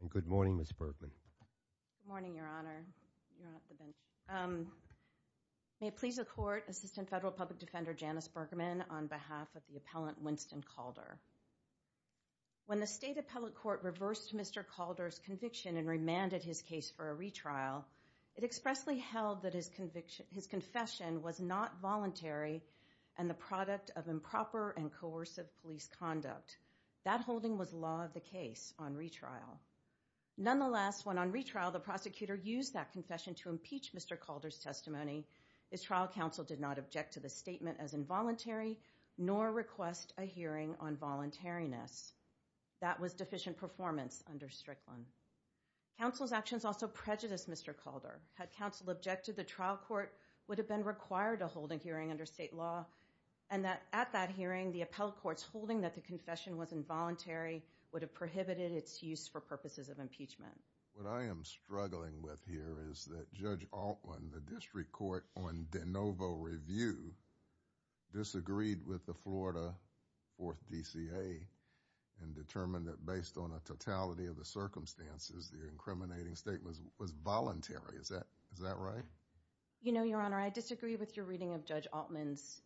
And good morning, Ms. Bergman. Good morning, Your Honor. May it please the Court, Assistant Federal Public Defender Janice Bergman on behalf of the appellant Winston Calder. When the State Appellate Court reversed Mr. Calder's conviction and remanded his case for a retrial, it expressly held that his confession was not voluntary and the product of improper and coercive police conduct. That holding was law of the case on retrial. Nonetheless, when on retrial the prosecutor used that confession to impeach Mr. Calder's testimony, his trial counsel did not object to the statement as involuntary nor request a hearing on voluntariness. That was deficient performance under Strickland. Counsel's actions also prejudiced Mr. Calder. Had counsel objected, the trial court would have been required to hold a hearing under state law and that at that hearing the appellate court's holding that the confession was involuntary would have prohibited its use for purposes of impeachment. What I am struggling with here is that Judge Altman, the district court on de novo review, disagreed with the Florida 4th DCA and determined that based on a totality of the circumstances, the incriminating statement was voluntary. Is that is that right? You know, Your Honor, I disagree with your reading of Judge Altman's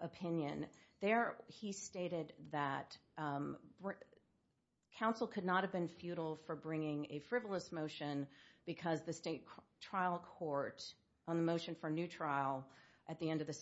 opinion. There he stated that counsel could not have been futile for bringing a frivolous motion because the state trial court on the motion for a new trial at the end of the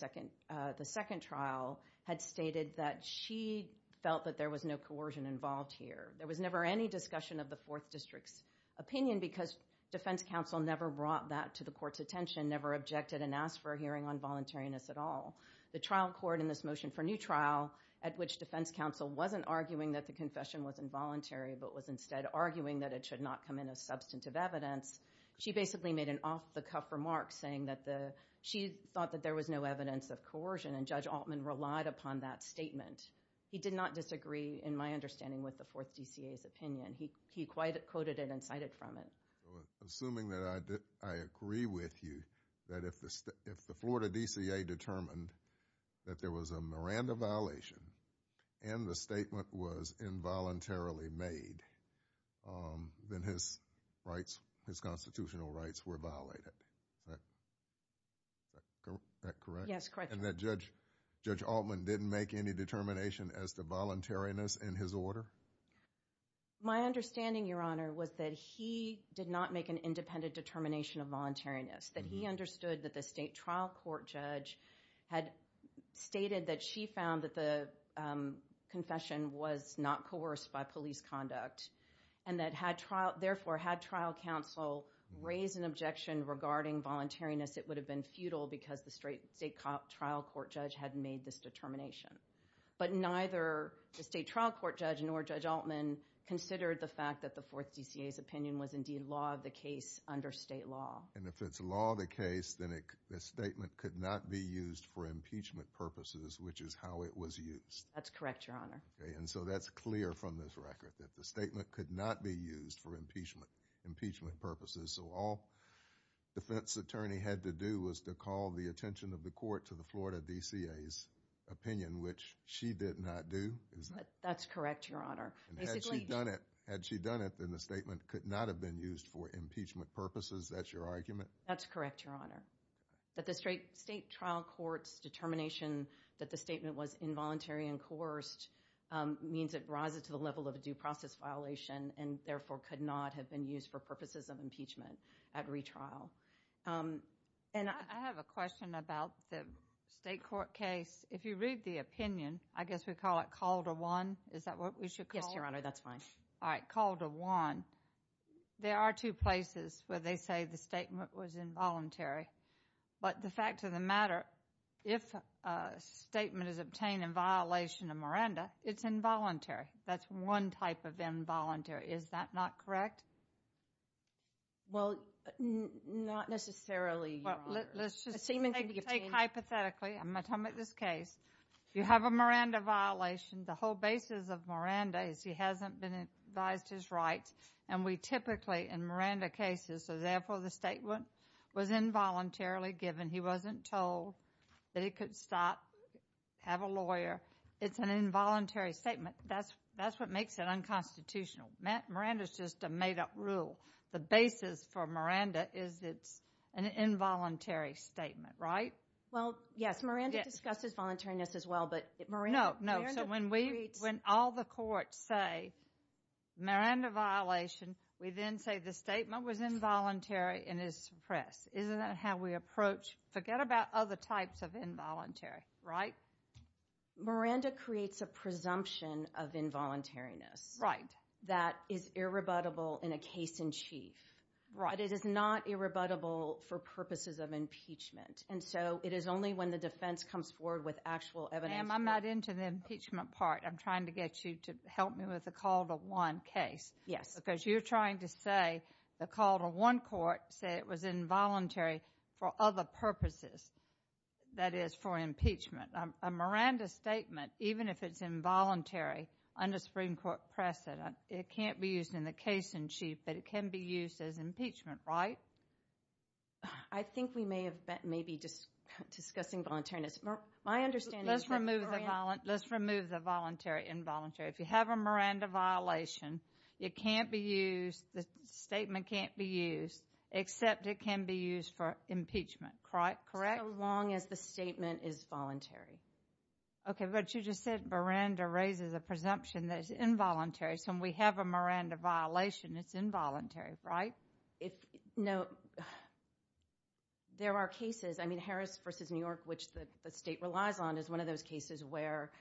second trial had stated that she felt that there was no coercion involved here. There was never any discussion of the 4th district's opinion because defense counsel never brought that to the court's attention, never objected and asked for a hearing on voluntariness at all. The trial court in this motion for new trial at which defense counsel wasn't arguing that the confession was involuntary but was instead arguing that it should not come in as substantive evidence, she basically made an off-the-cuff remark saying that the she thought that there was no evidence of coercion and Judge Altman relied upon that statement. He did not disagree in my understanding with the 4th DCA's opinion. He quoted it and cited from it. Assuming that I agree with you that if the Florida DCA determined that there was a Miranda violation and the statement was involuntarily made, then his rights, his constitutional rights were violated. Is that correct? Yes, correct. And that Judge Altman didn't make any determination as to voluntariness in his order? My understanding, your honor, was that he did not make an independent determination of voluntariness. That he understood that the state trial court judge had stated that she found that the confession was not coerced by police conduct and that had trial, therefore had trial counsel raise an objection regarding voluntariness, it would have been futile because the state trial court judge had made this determination. But neither the state trial court judge nor Judge Altman considered the fact that the 4th DCA's opinion was indeed law of the case under state law. And if it's law of the case, then the statement could not be used for impeachment purposes, which is how it was used. That's correct, your honor. And so that's clear from this record that the statement could not be used for impeachment purposes. So all defense attorney had to do was to call the attention of the court to the Florida DCA's opinion, which she did not do. That's correct, your honor. Had she done it, had she done it, then the statement could not have been used for impeachment purposes. That's your argument? That's correct, your honor. That the state trial court's determination that the statement was involuntary and coerced means it rises to the level of a due process violation and therefore could not have been used for purposes of impeachment at retrial. And I have a question about the state court case. If you read the opinion, I guess we call it called a one. Is that what we should call your honor? That's fine. All right. Called a one. There are two places where they say the statement was involuntary. But the fact of the matter, if a statement is obtained in violation of Miranda, it's involuntary. That's one type of involuntary. Is that not correct? Well, not necessarily. Let's just take hypothetically. I'm gonna come at this case. You have a Miranda violation. The whole basis of Miranda is he hasn't been advised his right and we typically in Miranda cases. So therefore, the statement was involuntarily given. He wasn't told that it could stop have a it's an involuntary statement. That's that's what makes it unconstitutional. Miranda is just a made up rule. The basis for Miranda is it's an involuntary statement, right? Well, yes, Miranda discusses voluntariness as well. But no, no. So when we when all the courts say Miranda violation, we then say the statement was involuntary and is suppressed. Isn't that how we approach? Forget about other types of involuntary, right? Miranda creates a presumption of involuntariness, right? That is irrebuttable in a case in chief, right? It is not irrebuttable for purposes of impeachment. And so it is only when the defense comes forward with actual evidence. I'm not into the impeachment part. I'm trying to get you to help me with the call to one case. Yes, because you're trying to say the call to one court said it was involuntary for other purposes. That is for impeachment. A Miranda statement, even if it's involuntary under Supreme Court precedent, it can't be used in the case in chief, but it can be used as impeachment, right? I think we may have been maybe just discussing voluntariness. My understanding is let's remove the violent. Let's remove the voluntary involuntary. If you have a Miranda violation, it can't be used, the statement can't be used, except it can be used for impeachment, correct? So long as the statement is voluntary. Okay, but you just said Miranda raises a presumption that it's involuntary. So when we have a Miranda violation, it's involuntary, right? No. There are cases, I mean Harris versus New York, which the state relies on, is one of those cases where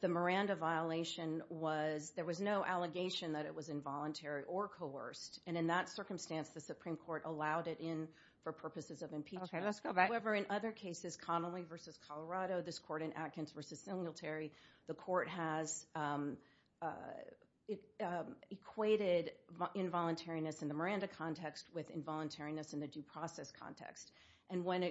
the Miranda violation was, there was no allegation that it was involuntary or coerced, and in that circumstance the Supreme Court allowed it in for purposes of impeachment. Okay, let's go back. However, in other cases, Connolly versus Colorado, this court in Atkins versus Singletary, the court has equated involuntariness in the Miranda context with involuntariness in the due process context, and when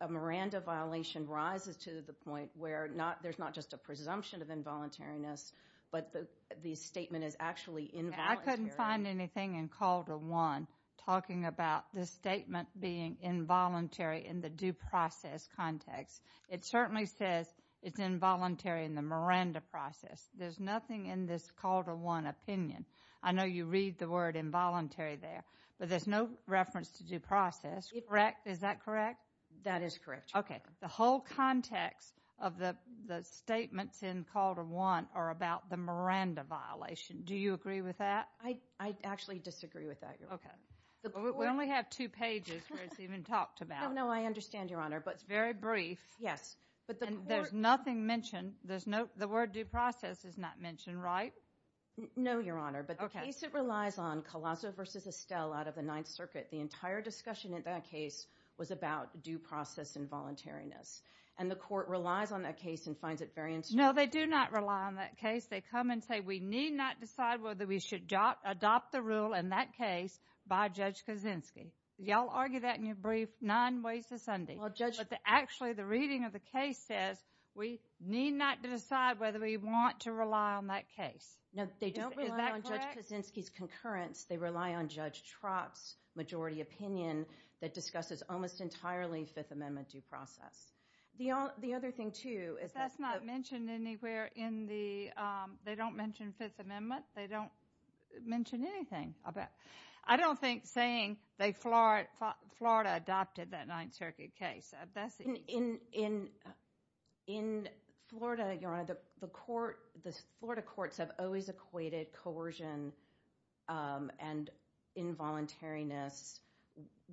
a Miranda violation rises to the point where there's not just a presumption of involuntariness, but the statement is actually involuntary. I couldn't find anything in Call to One talking about this statement being involuntary in the due process context. It certainly says it's involuntary in the Miranda process. There's nothing in this Call to One opinion. I know you read the word involuntary there, but there's no reference to due process, correct? Is that correct? That is correct. Okay, the whole context of the statements in Call to One are about the Miranda violation. Do you agree with that? I actually disagree with that. Okay, we only have two pages where it's even talked about. No, I understand, Your Honor, but it's very brief. Yes, but there's nothing mentioned. The word due process is not mentioned, right? No, Your Honor, but the case relies on Colosso versus Estelle out of the Ninth Circuit. The entire discussion in that case was about due process involuntariness, and the court relies on that case and finds it very interesting. No, they do not rely on that case. They come and say we need not decide whether we should adopt the rule in that case by Judge Kaczynski. Y'all argue that in your brief nine ways to Sunday, but actually the reading of the case says we need not decide whether we want to rely on that case. No, they don't rely on Judge Kaczynski's concurrence. They rely on Judge Trott's majority opinion that discusses almost entirely Fifth Amendment due process. The other thing, too, is that's not mentioned anywhere in the, they don't mention Fifth Amendment. They don't mention anything about, I don't think saying they, Florida adopted that Ninth Circuit case. In Florida, Your Honor, the court, the Florida courts have always equated coercion and involuntariness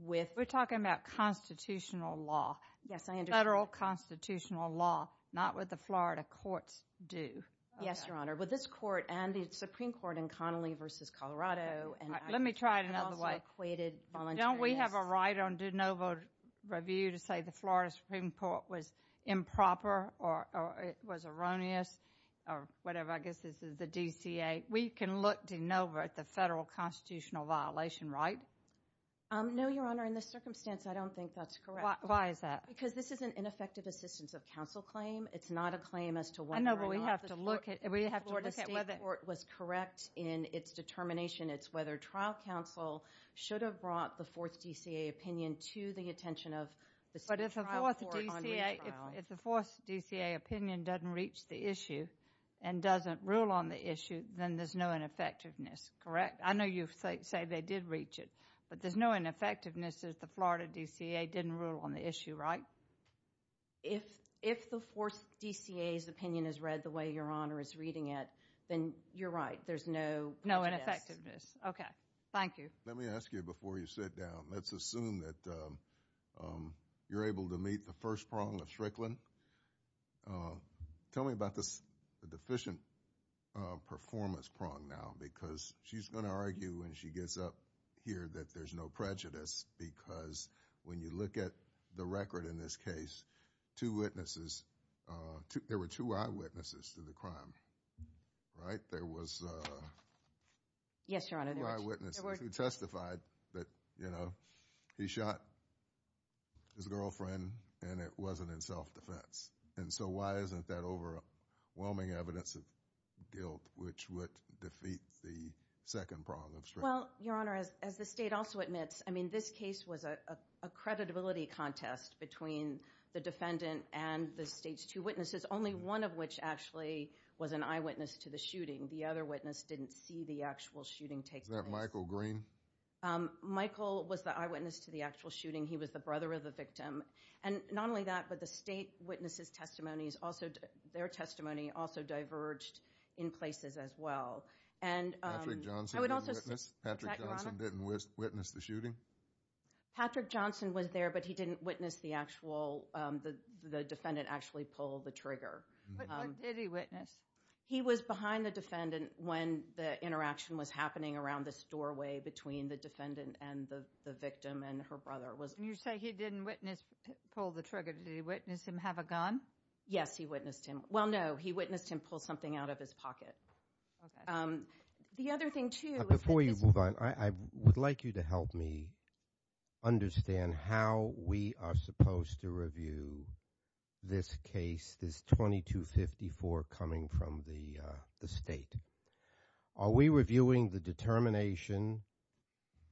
with... We're talking about constitutional law. Yes, I understand. Federal constitutional law, not what the Florida courts do. Yes, Your Honor, but this court and the Supreme Court in Connolly v. Colorado... Let me try it another way. Don't we have a right on de novo review to say the Florida Supreme Court was improper or it was erroneous or whatever, I guess this is the DCA. We can look de novo at the federal constitutional violation, right? No, Your Honor, in this circumstance, I don't think that's correct. Why is that? Because this is an ineffective assistance of counsel claim. It's not a claim as to whether or not... I know, but we have to look at it. We have to look at whether it was correct in its determination. It's whether trial counsel should have brought the Fourth DCA opinion to the attention of the Supreme Court. But if the Fourth DCA opinion doesn't reach the issue and doesn't rule on the issue, then there's no ineffectiveness, correct? I know you say they did reach it, but there's no ineffectiveness if the Florida DCA didn't rule on the issue, right? If the Fourth DCA's opinion is read the way Your Honor is reading it, then you're right. There's no... No ineffectiveness. Okay, thank you. Let me ask you before you sit down. Let's assume that you're able to meet the first prong of Strickland. Tell me about the deficient performance prong now, because she's going to argue when she gets up here that there's no prejudice, because when you look at the record in this case, two witnesses, there were two eyewitnesses to the crime, right? There was two eyewitnesses who testified that, you know, he shot his girlfriend and it wasn't in self-defense. And so why isn't that overwhelming evidence of guilt, which would defeat the second prong of Strickland? Well, Your Honor, as the state also admits, I mean, this case was a creditability contest between the defendant and the state's two witnesses, only one of which actually was an eyewitness to the shooting. The other witness didn't see the actual shooting take place. Was that Michael Green? Michael was the eyewitness to the actual shooting. He was the brother of the victim. And not only that, but the state witnesses' testimonies also, their testimony, also diverged in places as well. Patrick Johnson didn't witness the shooting? Patrick Johnson was there, but he didn't witness the actual, the defendant actually pulled the trigger. But what did he witness? He was behind the defendant when the interaction was happening around this doorway between the defendant and the victim and her brother. You say he didn't witness, pull the trigger. Did he witness him have a gun? Yes, he witnessed him. Well, no, he witnessed him pull something out of his pocket. The other thing too... Before you move on, I would like you to help me understand how we are supposed to review this case, this 2254 coming from the state. Are we reviewing the determination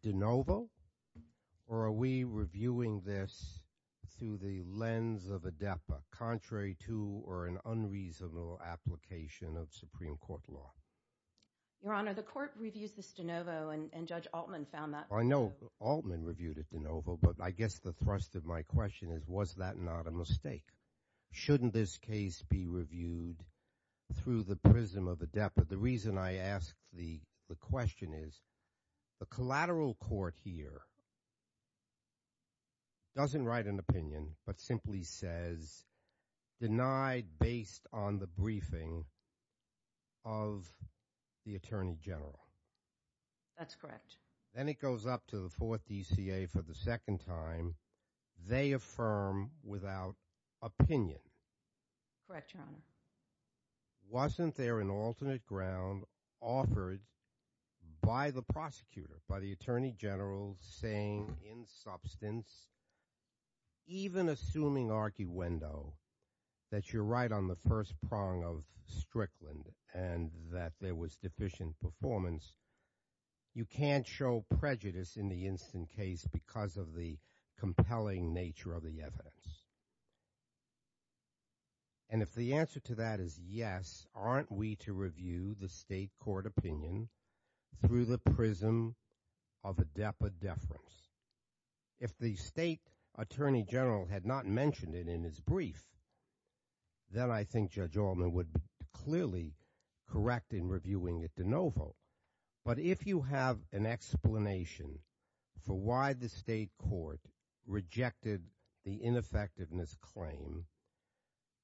de novo? Or are we reviewing the determination de facto? Are we reviewing this through the lens of a DEPA, contrary to or an unreasonable application of Supreme Court law? Your Honor, the court reviews this de novo, and Judge Altman found that... I know Altman reviewed it de novo, but I guess the thrust of my question is, was that not a mistake? Shouldn't this case be reviewed through the prism of a DEPA? The reason I ask the question is, the collateral court here, doesn't write an opinion, but simply says, denied based on the briefing of the Attorney General. That's correct. Then it goes up to the 4th DCA for the second time. They affirm without opinion. Correct, Your Honor. Wasn't there an alternate ground offered by the prosecutor, by the Attorney General, saying in substance, even assuming archiwendo, that you're right on the first prong of Strickland and that there was deficient performance, you can't show prejudice in the instant case because of the compelling nature of the evidence? And if the answer to that is yes, aren't we to review the State Court opinion through the prism of a DEPA deference? If the State Attorney General had not mentioned it in his brief, then I think Judge Altman would clearly correct in reviewing it de novo. But if you have an explanation for why the State Court rejected the ineffectiveness claim,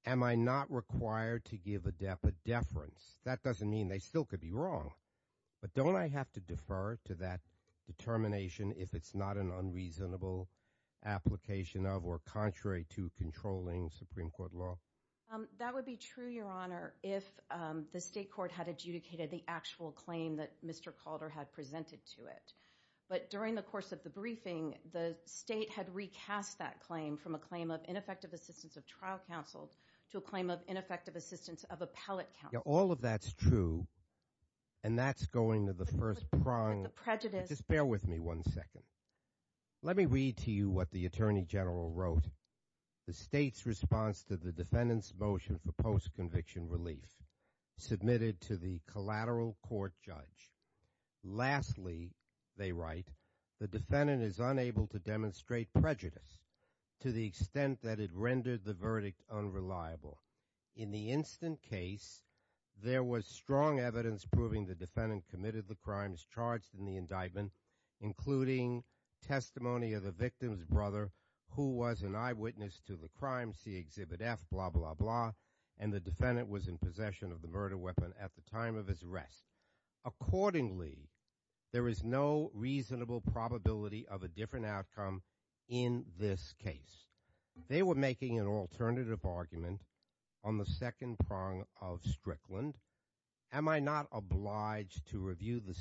am I not required to give a DEPA deference? That doesn't mean they still could be wrong. But don't I have to defer to that determination if it's not an unreasonable application of or contrary to controlling Supreme Court law? That would be true, Your Honor, if the State Court had adjudicated the actual claim that Mr. Calder had presented to it. But during the course of the briefing, the State had recast that claim from a claim of ineffective assistance of trial counsel to a claim of ineffective assistance of appellate counsel. All of that's true, and that's going to the first prong. Just bear with me one second. Let me read to you what the Attorney General wrote. The State's response to the defendant's motion for post-conviction relief submitted to the collateral court judge. Lastly, they write, the defendant is unable to demonstrate prejudice to the extent that it rendered the verdict unreliable. In the instant case, there was strong evidence proving the defendant committed the crimes charged in the indictment, including testimony of the victim's brother, who was an eyewitness to the crime, see Exhibit F, blah, blah, blah, and the defendant was in possession of the murder weapon at the time of his arrest. Accordingly, there is no reasonable probability of a different outcome in this case. They were making an alternative argument on the second prong of Strickland. Am I not obliged to review the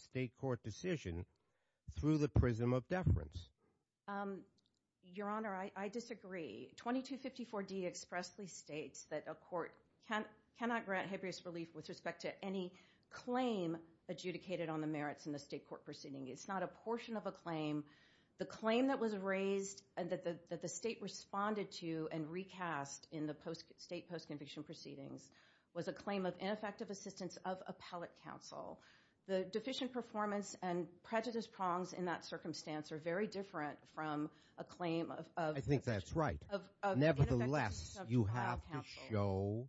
State court decision through the prism of deference? Your Honor, I disagree. 2254D expressly states that a court cannot grant habeas relief with respect to any claim adjudicated on the merits in the State court proceeding. It's not a portion of a claim. The claim that was raised and that the State responded to and recast in the State post-conviction proceedings was a claim of ineffective assistance of appellate counsel. The deficient performance and prejudice prongs in that circumstance are very different from a claim of... I think that's right. Nevertheless, you have to show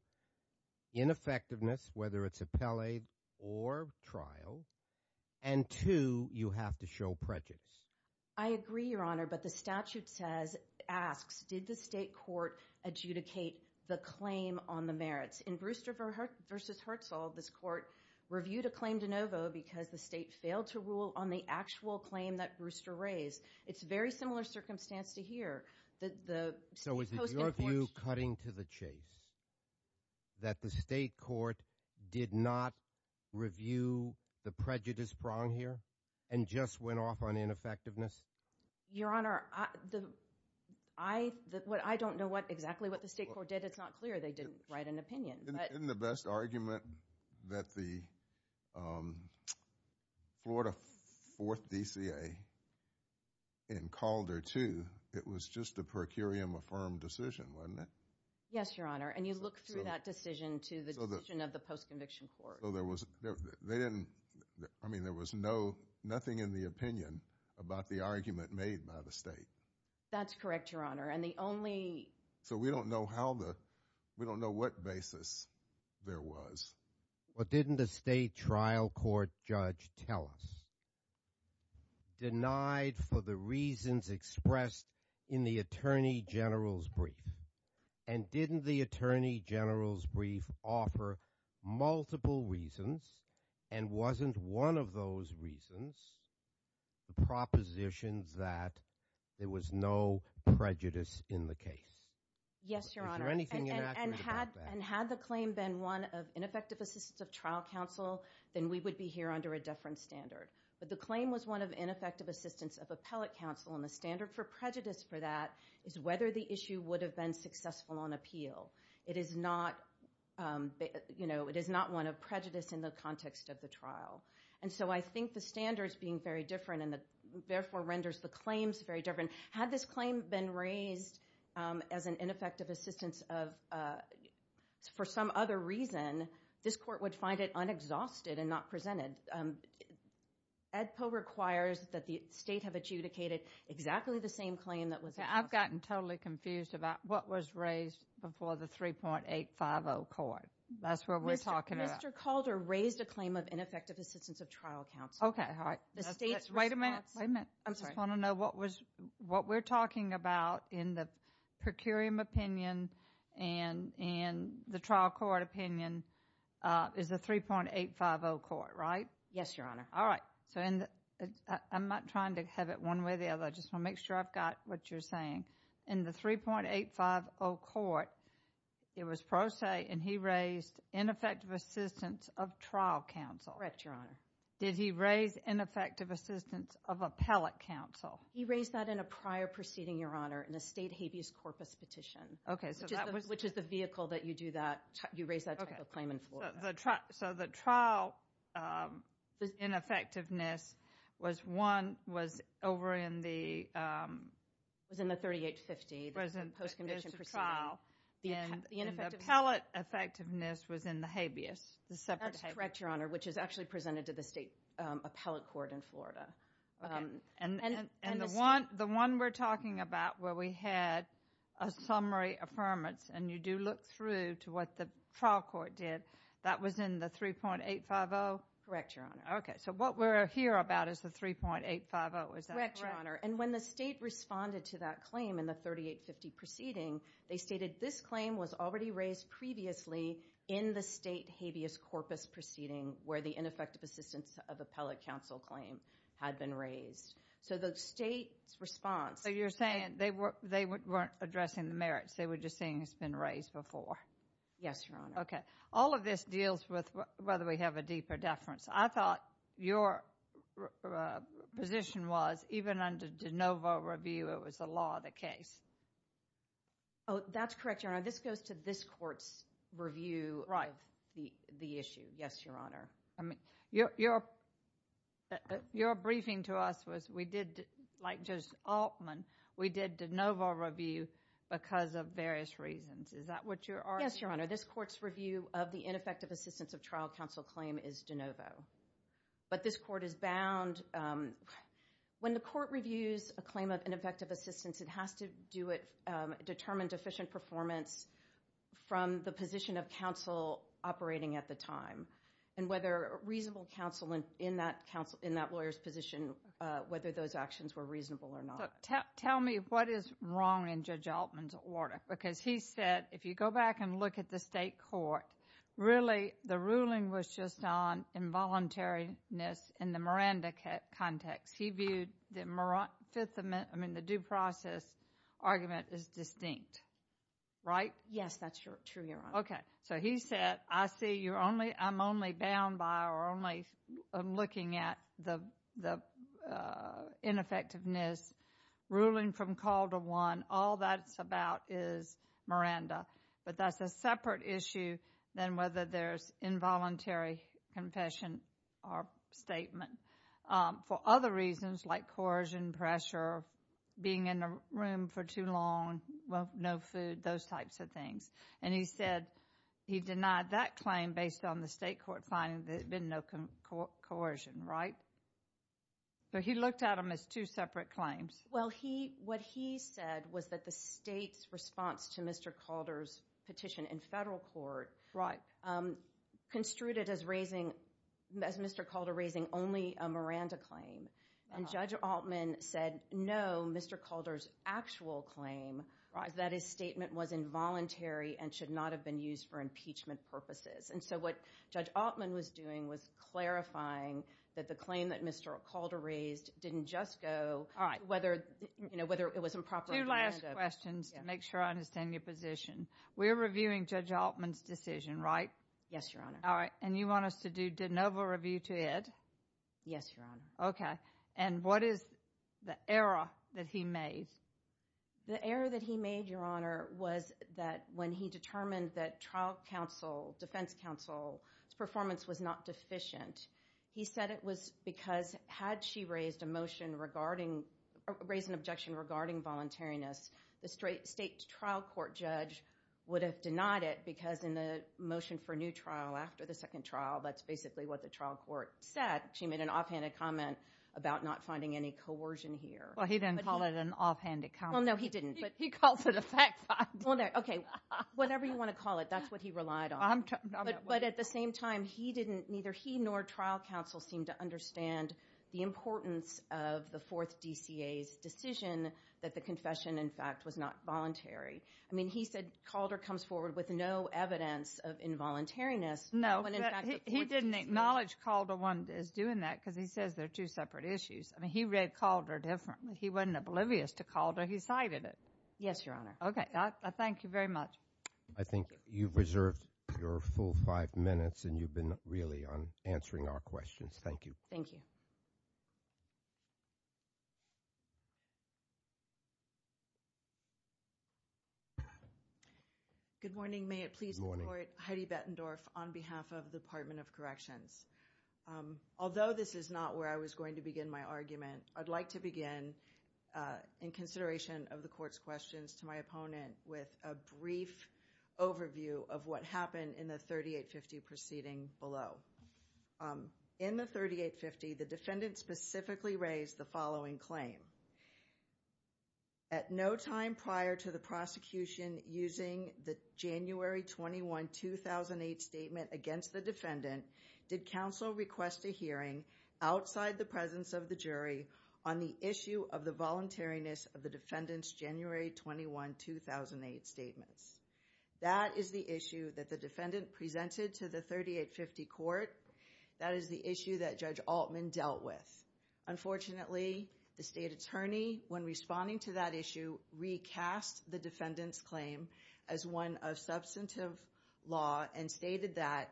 ineffectiveness, whether it's appellate or trial, and two, you have to show prejudice. I agree, Your Honor, but the statute asks, did the State court adjudicate the claim on the merits? In Brewster v. Herzl, this court reviewed a claim de novo because the State failed to rule on the actual claim that Brewster raised. It's a very similar circumstance to here. So is it your view, cutting to the chase, that the State court did not review the prejudice prong here and just went off on ineffectiveness? Your Honor, I don't know exactly what the State court did. It's not clear they did write an opinion. Isn't the best argument that the Florida 4th DCA in Calder, too, it was just a per curiam affirmed decision, wasn't it? Yes, Your Honor, and you look through that decision to the decision of the post-conviction court. I mean, there was nothing in the opinion about the argument made by the State. That's correct, Your Honor. So we don't know what basis there was. What didn't the State trial court judge tell us? Denied for the reasons expressed in the Attorney General's brief. And didn't the Attorney General's brief offer multiple reasons and wasn't one of those reasons the propositions that there was no prejudice in the case? Yes, Your Honor. And had the claim been one of ineffective assistance of trial counsel, then we would be here under a different standard. But the claim was one of ineffective assistance of appellate counsel and the standard for prejudice for that is whether the issue would have been successful on appeal. It is not one of prejudice in the context of the trial. And so I think the standard is being very different and therefore renders the claims very different. Had this claim been raised as an ineffective assistance of for some other reason, this court would find it unexhausted and not presented. ADPO requires that the State have adjudicated exactly the same claim that was expressed. I've gotten totally confused about what was raised before the 3.850 court. That's what we're talking about. Mr. Calder raised a claim of ineffective assistance of trial counsel. Okay, all right. Wait a minute. I just want to know what we're talking about in the per curiam opinion and the trial court opinion is the 3.850 court, right? Yes, Your Honor. All right. I'm not trying to have it one way or the other. I just want to make sure I've got what you're saying. In the 3.850 court, it was pro se and he raised ineffective assistance of trial counsel. Correct, Your Honor. Did he raise ineffective assistance of appellate counsel? He raised that in a prior proceeding, Your Honor, in a State habeas corpus petition. Okay, so that was... Which is the vehicle that you do that, you raise that type of claim in Florida. Okay, so the trial ineffectiveness was one, was over in the... It was in the 3.850. It was in the post-condition proceeding. And the appellate effectiveness was in the habeas. That's correct, Your Honor, which is actually presented to the State appellate court in Florida. And the one we're talking about where we had a summary affirmance and you do look through to what the trial court did, that was in the 3.850? Correct, Your Honor. Okay, so what we're here about is the 3.850, is that correct? Correct, Your Honor. And when the State responded to that claim in the 3.850 proceeding, they stated this claim was already raised previously in the State habeas corpus proceeding where the ineffective assistance of appellate counsel claim had been raised. So the State's response... So you're saying they weren't addressing the merits. They were just saying it's been raised before. Yes, Your Honor. Okay, all of this deals with whether we have a deeper deference. I thought your position was even under DeNovo review, it was the law of the case. Oh, that's correct, Your Honor. This goes to this court's review of the issue. Yes, Your Honor. Your briefing to us was we did, like Judge Altman, we did DeNovo review because of various reasons. Is that what you're arguing? Yes, Your Honor. This court's review of the ineffective assistance of trial counsel claim is DeNovo. But this court is bound, when the court reviews a claim of ineffective assistance, it has to do it, determine deficient performance from the position of counsel operating at the time. And whether reasonable counsel in that lawyer's position, whether those actions were reasonable or not. Tell me what is wrong in Judge Altman's order. Because he said, if you go back and look at the state court, really the ruling was just on involuntariness in the Miranda context. He viewed the due process argument as distinct. Right? Yes, that's true, Your Honor. Okay, so he said, I see you're only, I'm only bound by or only looking at the ineffectiveness. Ruling from call to one, all that's about is Miranda. But that's a separate issue than whether there's involuntary confession or statement. For other reasons like coercion, pressure, being in a room for too long, no food, those types of things. And he said he denied that claim based on the state court finding there had been no coercion. Right? But he looked at them as two separate claims. Well, he, what he said was that the state's response to Mr. Calder's petition in federal court. Right. Construed it as raising, as Mr. Calder raising only a Miranda claim. And Judge Altman said, no, Mr. Calder's actual claim. Right. That his statement was involuntary and should not have been used for impeachment purposes. And so what Judge Altman was doing was clarifying that the claim that Mr. Calder raised didn't just go. All right. Whether, you know, whether it was improper. Two last questions to make sure I understand your position. We're reviewing Judge Altman's decision, right? Yes, Your Honor. All right. And you want us to do de novo review to it? Yes, Your Honor. Okay. And what is the error that he made? The error that he made, Your Honor, was that when he determined that trial counsel, defense counsel's performance was not deficient. He said it was because had she raised a motion regarding, raised an objection regarding voluntariness, the state trial court judge would have denied it because in the motion for new trial after the second trial, that's basically what the trial court said. She made an offhanded comment about not finding any coercion here. Well, he didn't call it an offhanded comment. Well, no, he didn't. He calls it a fact find. Okay. Whatever you want to call it, that's what he relied on. But at the same time, he didn't, neither he nor trial counsel seemed to understand the importance of the fourth DCA's decision that the confession, in fact, was not voluntary. I mean, he said Calder comes forward with no evidence of involuntariness. No, he didn't acknowledge Calder is doing that because he says they're two separate issues. I mean, he read Calder differently. He wasn't oblivious to Calder. He cited it. Yes, Your Honor. Okay. Thank you very much. I think you've reserved your full five minutes, and you've been really on answering our questions. Thank you. Thank you. Good morning. May it please the Court. Good morning. Heidi Bettendorf on behalf of the Department of Corrections. Although this is not where I was going to begin my argument, I'd like to begin in consideration of the Court's questions to my opponent with a brief overview of what happened in the 3850 proceeding below. In the 3850, the defendant specifically raised the following claim. At no time prior to the prosecution using the January 21, 2008 statement against the defendant, did counsel request a hearing outside the presence of the jury on the issue of the voluntariness of the defendant's January 21, 2008 statements. That is the issue that the defendant presented to the 3850 Court. That is the issue that Judge Altman dealt with. Unfortunately, the State Attorney, when responding to that issue, recast the defendant's claim as one of substantive law and stated that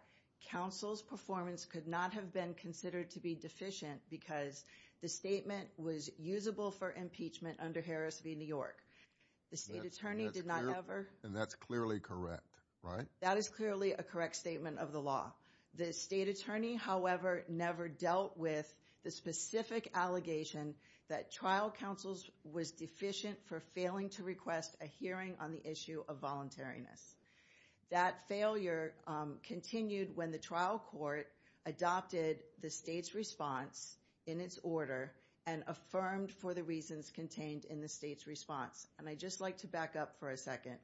counsel's performance could not have been considered to be deficient because the statement was usable for impeachment under Harris v. New York. The State Attorney did not ever... And that's clearly correct, right? That is clearly a correct statement of the law. The State Attorney, however, never dealt with the specific allegation that trial counsel was deficient for failing to request a hearing on the issue of voluntariness. That failure continued when the trial court adopted the State's response in its order and affirmed for the reasons contained in the State's response. And I'd just like to back up for a second.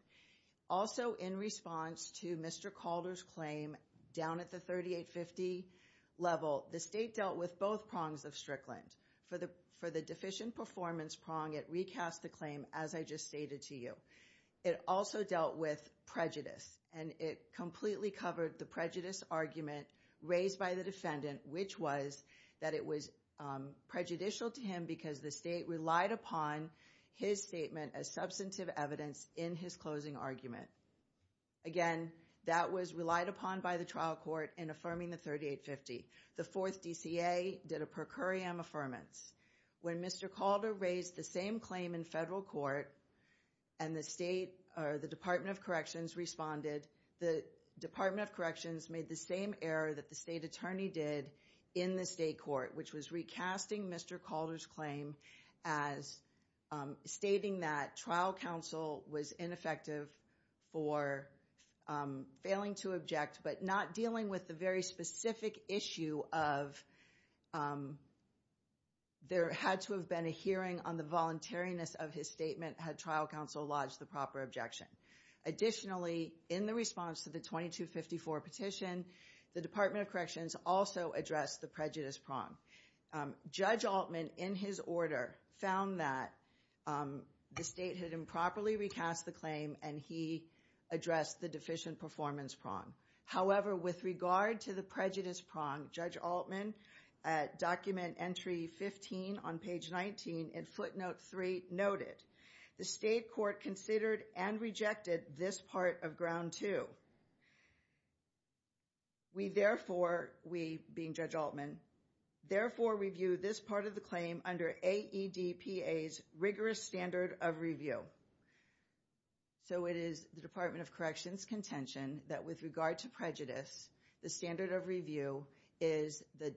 Also, in response to Mr. Calder's claim down at the 3850 level, the State dealt with both prongs of Strickland. For the deficient performance prong, it recast the claim as I just stated to you. It also dealt with prejudice, and it completely covered the prejudice argument raised by the defendant, which was that it was prejudicial to him because the State relied upon his statement as substantive evidence in his closing argument. Again, that was relied upon by the trial court in affirming the 3850. The 4th DCA did a per curiam affirmance. When Mr. Calder raised the same claim in federal court and the State or the Department of Corrections responded, the Department of Corrections made the same error that the State Attorney did in the State court, which was recasting Mr. Calder's claim as stating that trial counsel was ineffective for failing to object but not dealing with the very specific issue of there had to have been a hearing on the voluntariness of his statement had trial counsel lodged the proper objection. Additionally, in the response to the 2254 petition, the Department of Corrections also addressed the prejudice prong. Judge Altman, in his order, found that the State had improperly recast the claim and he addressed the deficient performance prong. However, with regard to the prejudice prong, Judge Altman, at document entry 15 on page 19 in footnote 3, noted the State court considered and rejected this part of ground too. We therefore, we being Judge Altman, therefore review this part of the claim under AEDPA's rigorous standard of review. So it is the Department of Corrections contention that with regard to prejudice, the standard of review is the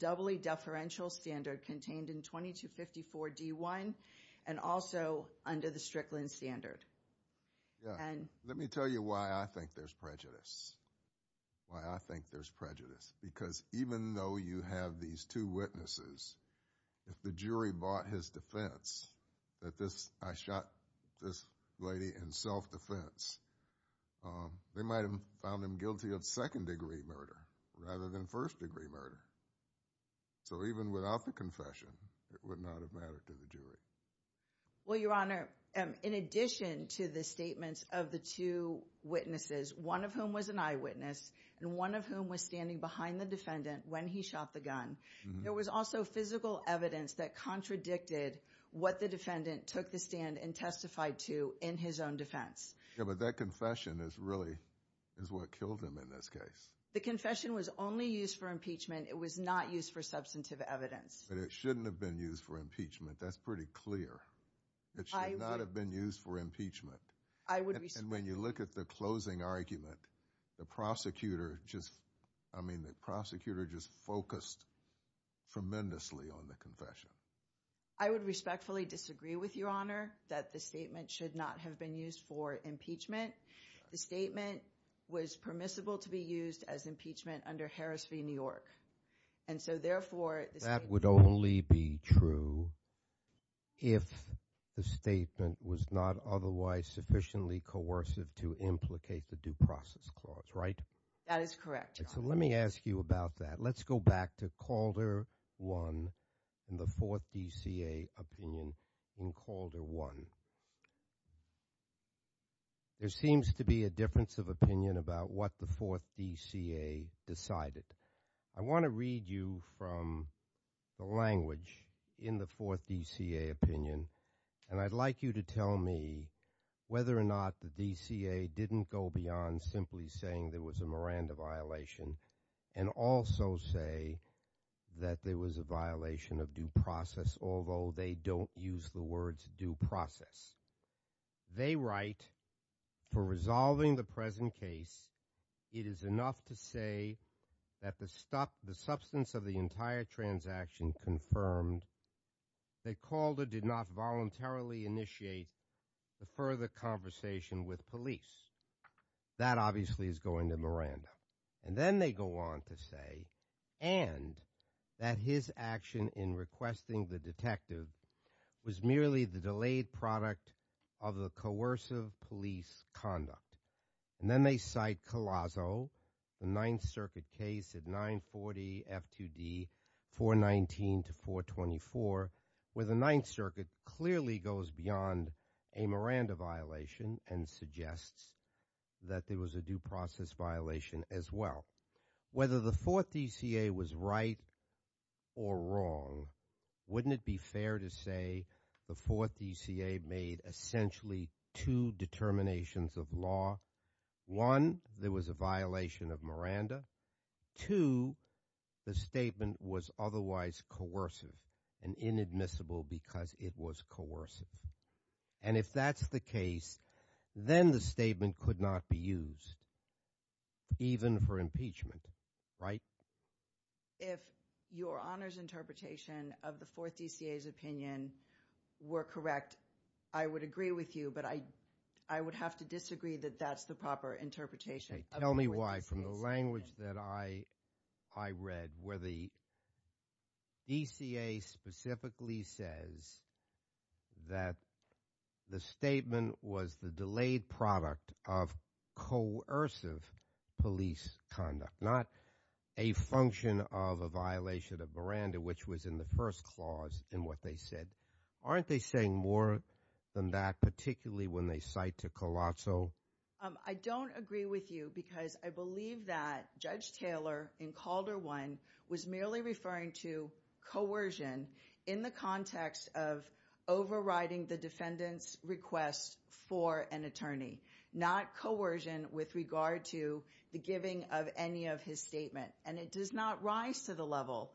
doubly deferential standard contained in 2254 D1 and also under the Strickland standard. Let me tell you why I think there's prejudice. Why I think there's prejudice. Because even though you have these two witnesses, if the jury bought his defense that this, I shot this lady in self-defense, they might have found him guilty of second-degree murder rather than first-degree murder. So even without the confession, it would not have mattered to the jury. Well, Your Honor, in addition to the statements of the two witnesses, one of whom was an eyewitness and one of whom was standing behind the defendant when he shot the gun, there was also physical evidence that contradicted what the defendant took the stand and testified to in his own defense. Yeah, but that confession is really is what killed him in this case. The confession was only used for impeachment. It was not used for substantive evidence. But it shouldn't have been used for impeachment. That's pretty clear. It should not have been used for impeachment. And when you look at the closing argument, the prosecutor just, I mean, the prosecutor just focused tremendously on the confession. I would respectfully disagree with Your Honor that the statement should not have been used for impeachment. The statement was permissible to be used as impeachment under Harris v. New York. And so, therefore, the statement— That would only be true if the statement was not otherwise sufficiently coercive to implicate the due process clause, right? That is correct, Your Honor. So let me ask you about that. Let's go back to Calder 1 and the Fourth DCA opinion in Calder 1. There seems to be a difference of opinion about what the Fourth DCA decided. I want to read you from the language in the Fourth DCA opinion. And I'd like you to tell me whether or not the DCA didn't go beyond simply saying there was a Miranda violation and also say that there was a violation of due process, although they don't use the words due process. They write, for resolving the present case, it is enough to say that the substance of the entire transaction confirmed that Calder did not voluntarily initiate the further conversation with police. That obviously is going to Miranda. And then they go on to say, and that his action in requesting the detective was merely the delayed product of the coercive police conduct. And then they cite Collazo, the Ninth Circuit case at 940 F2D 419 to 424, where the Ninth Circuit clearly goes beyond a Miranda violation and suggests that there was a due process violation as well. Whether the Fourth DCA was right or wrong, wouldn't it be fair to say the Fourth DCA made essentially two determinations of law? One, there was a violation of Miranda. Two, the statement was otherwise coercive and inadmissible because it was coercive. And if that's the case, then the statement could not be used even for impeachment, right? If Your Honor's interpretation of the Fourth DCA's opinion were correct, I would agree with you, but I would have to disagree that that's the proper interpretation. Tell me why, from the language that I read, where the DCA specifically says that the statement was the delayed product of coercive police conduct. Not a function of a violation of Miranda, which was in the first clause in what they said. Aren't they saying more than that, particularly when they cite to Collazo? I don't agree with you because I believe that Judge Taylor in Calder 1 was merely referring to coercion in the context of overriding the defendant's request for an attorney. Not coercion with regard to the giving of any of his statement. And it does not rise to the level,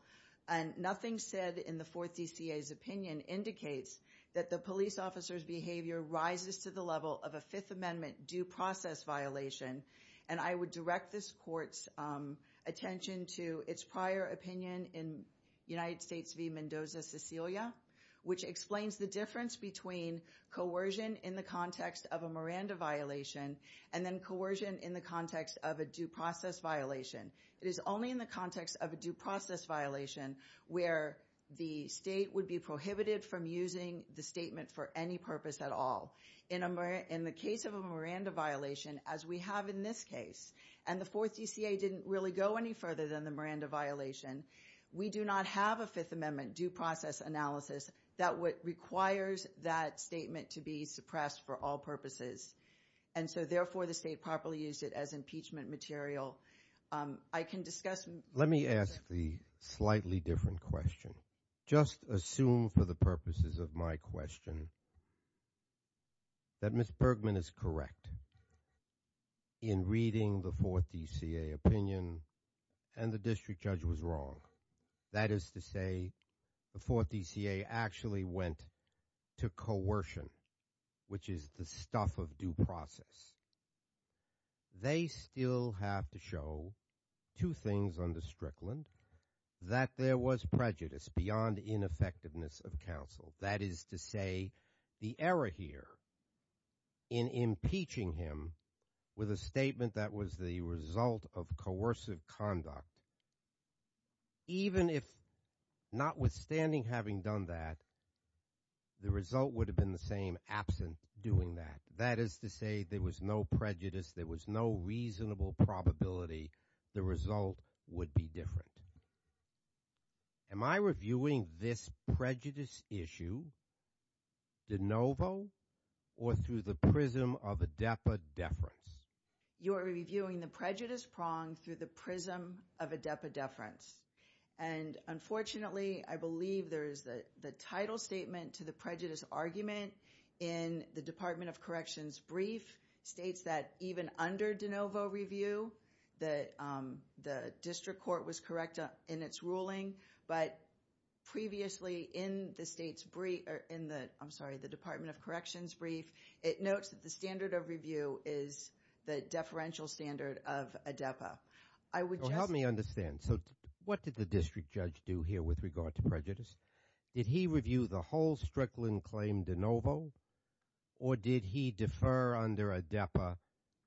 and nothing said in the Fourth DCA's opinion indicates that the police officer's behavior rises to the level of a Fifth Amendment due process violation. And I would direct this court's attention to its prior opinion in United States v. Mendoza-Cecilia, which explains the difference between coercion in the context of a Miranda violation and then coercion in the context of a due process violation. It is only in the context of a due process violation where the state would be prohibited from using the statement for any purpose at all. In the case of a Miranda violation, as we have in this case, and the Fourth DCA didn't really go any further than the Miranda violation, we do not have a Fifth Amendment due process analysis that requires that statement to be suppressed for all purposes. And so, therefore, the state properly used it as impeachment material. I can discuss— Let me ask the slightly different question. Just assume for the purposes of my question that Ms. Bergman is correct in reading the Fourth DCA opinion, and the district judge was wrong. That is to say, the Fourth DCA actually went to coercion, which is the stuff of due process. They still have to show two things on the Strickland, that there was prejudice beyond ineffectiveness of counsel. That is to say, the error here in impeaching him with a statement that was the result of coercive conduct, even if notwithstanding having done that, the result would have been the same absent doing that. That is to say, there was no prejudice, there was no reasonable probability the result would be different. Am I reviewing this prejudice issue de novo or through the prism of adepa deference? You are reviewing the prejudice prong through the prism of adepa deference. And, unfortunately, I believe there is the title statement to the prejudice argument in the Department of Corrections' brief, states that even under de novo review, the district court was correct in its ruling, but previously in the Department of Corrections' brief, it notes that the standard of review is the deferential standard of adepa. Help me understand. What did the district judge do here with regard to prejudice? Did he review the whole Strickland claim de novo, or did he defer under adepa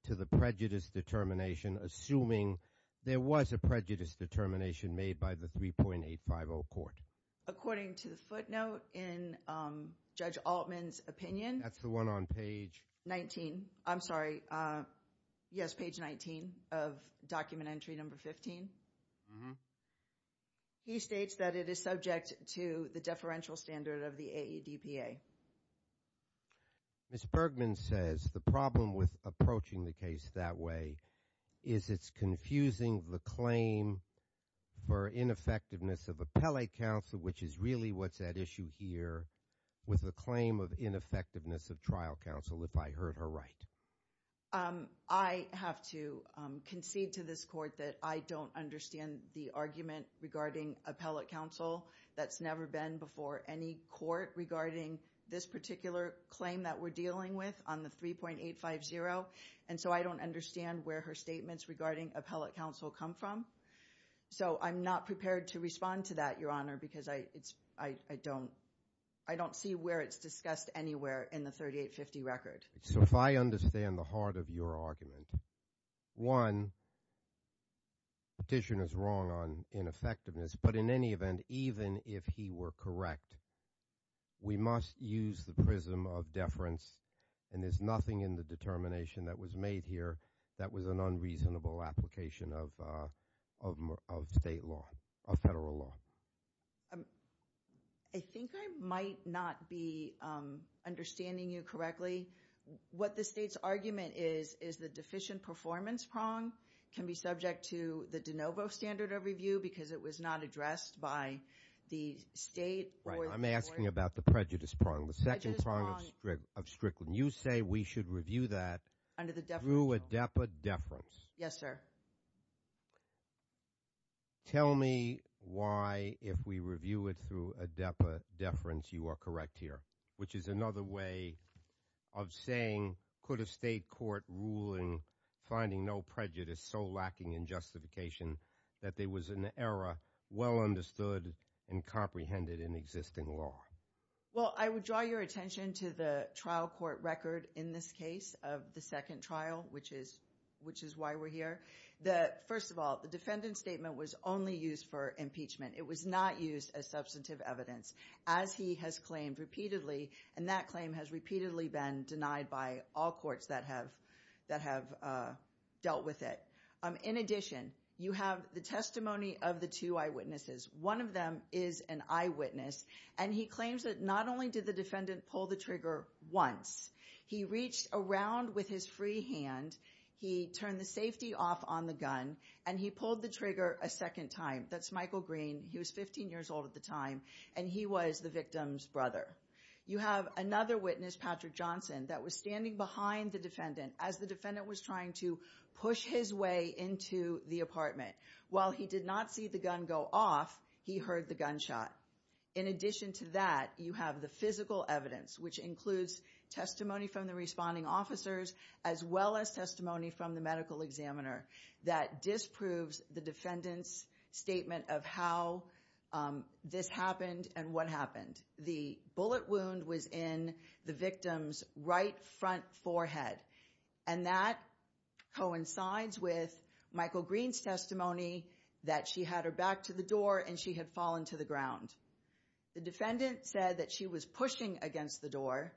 to the prejudice determination, assuming there was a prejudice determination made by the 3.850 court? According to the footnote in Judge Altman's opinion. That's the one on page 19. I'm sorry. Yes, page 19 of document entry number 15. He states that it is subject to the deferential standard of the adepa. Ms. Bergman says the problem with approaching the case that way is it's confusing the claim for ineffectiveness of appellate counsel, which is really what's at issue here, with the claim of ineffectiveness of trial counsel, if I heard her right. I have to concede to this court that I don't understand the argument regarding appellate counsel. That's never been before any court regarding this particular claim that we're dealing with on the 3.850. And so I don't understand where her statements regarding appellate counsel come from. So I'm not prepared to respond to that, Your Honor, because I don't see where it's discussed anywhere in the 3850 record. So if I understand the heart of your argument, one, petitioner's wrong on ineffectiveness, but in any event, even if he were correct, we must use the prism of deference, and there's nothing in the determination that was made here that was an unreasonable application of state law, of federal law. I think I might not be understanding you correctly. What the state's argument is is the deficient performance prong can be subject to the de novo standard of review because it was not addressed by the state or the court. Right. I'm asking about the prejudice prong, the second prong of Strickland. You say we should review that through a depa deference. Yes, sir. Tell me why, if we review it through a depa deference, you are correct here, which is another way of saying could a state court ruling finding no prejudice so lacking in justification that there was an error well understood and comprehended in existing law. Well, I would draw your attention to the trial court record in this case of the second trial, which is why we're here. First of all, the defendant's statement was only used for impeachment. It was not used as substantive evidence, as he has claimed repeatedly, and that claim has repeatedly been denied by all courts that have dealt with it. In addition, you have the testimony of the two eyewitnesses. One of them is an eyewitness, and he claims that not only did the defendant pull the trigger once, he reached around with his free hand, he turned the safety off on the gun, and he pulled the trigger a second time. That's Michael Green. He was 15 years old at the time, and he was the victim's brother. You have another witness, Patrick Johnson, that was standing behind the defendant as the defendant was trying to push his way into the apartment. While he did not see the gun go off, he heard the gunshot. In addition to that, you have the physical evidence, which includes testimony from the responding officers as well as testimony from the medical examiner that disproves the defendant's statement of how this happened and what happened. The bullet wound was in the victim's right front forehead, and that coincides with Michael Green's testimony that she had her back to the door and she had fallen to the ground. The defendant said that she was pushing against the door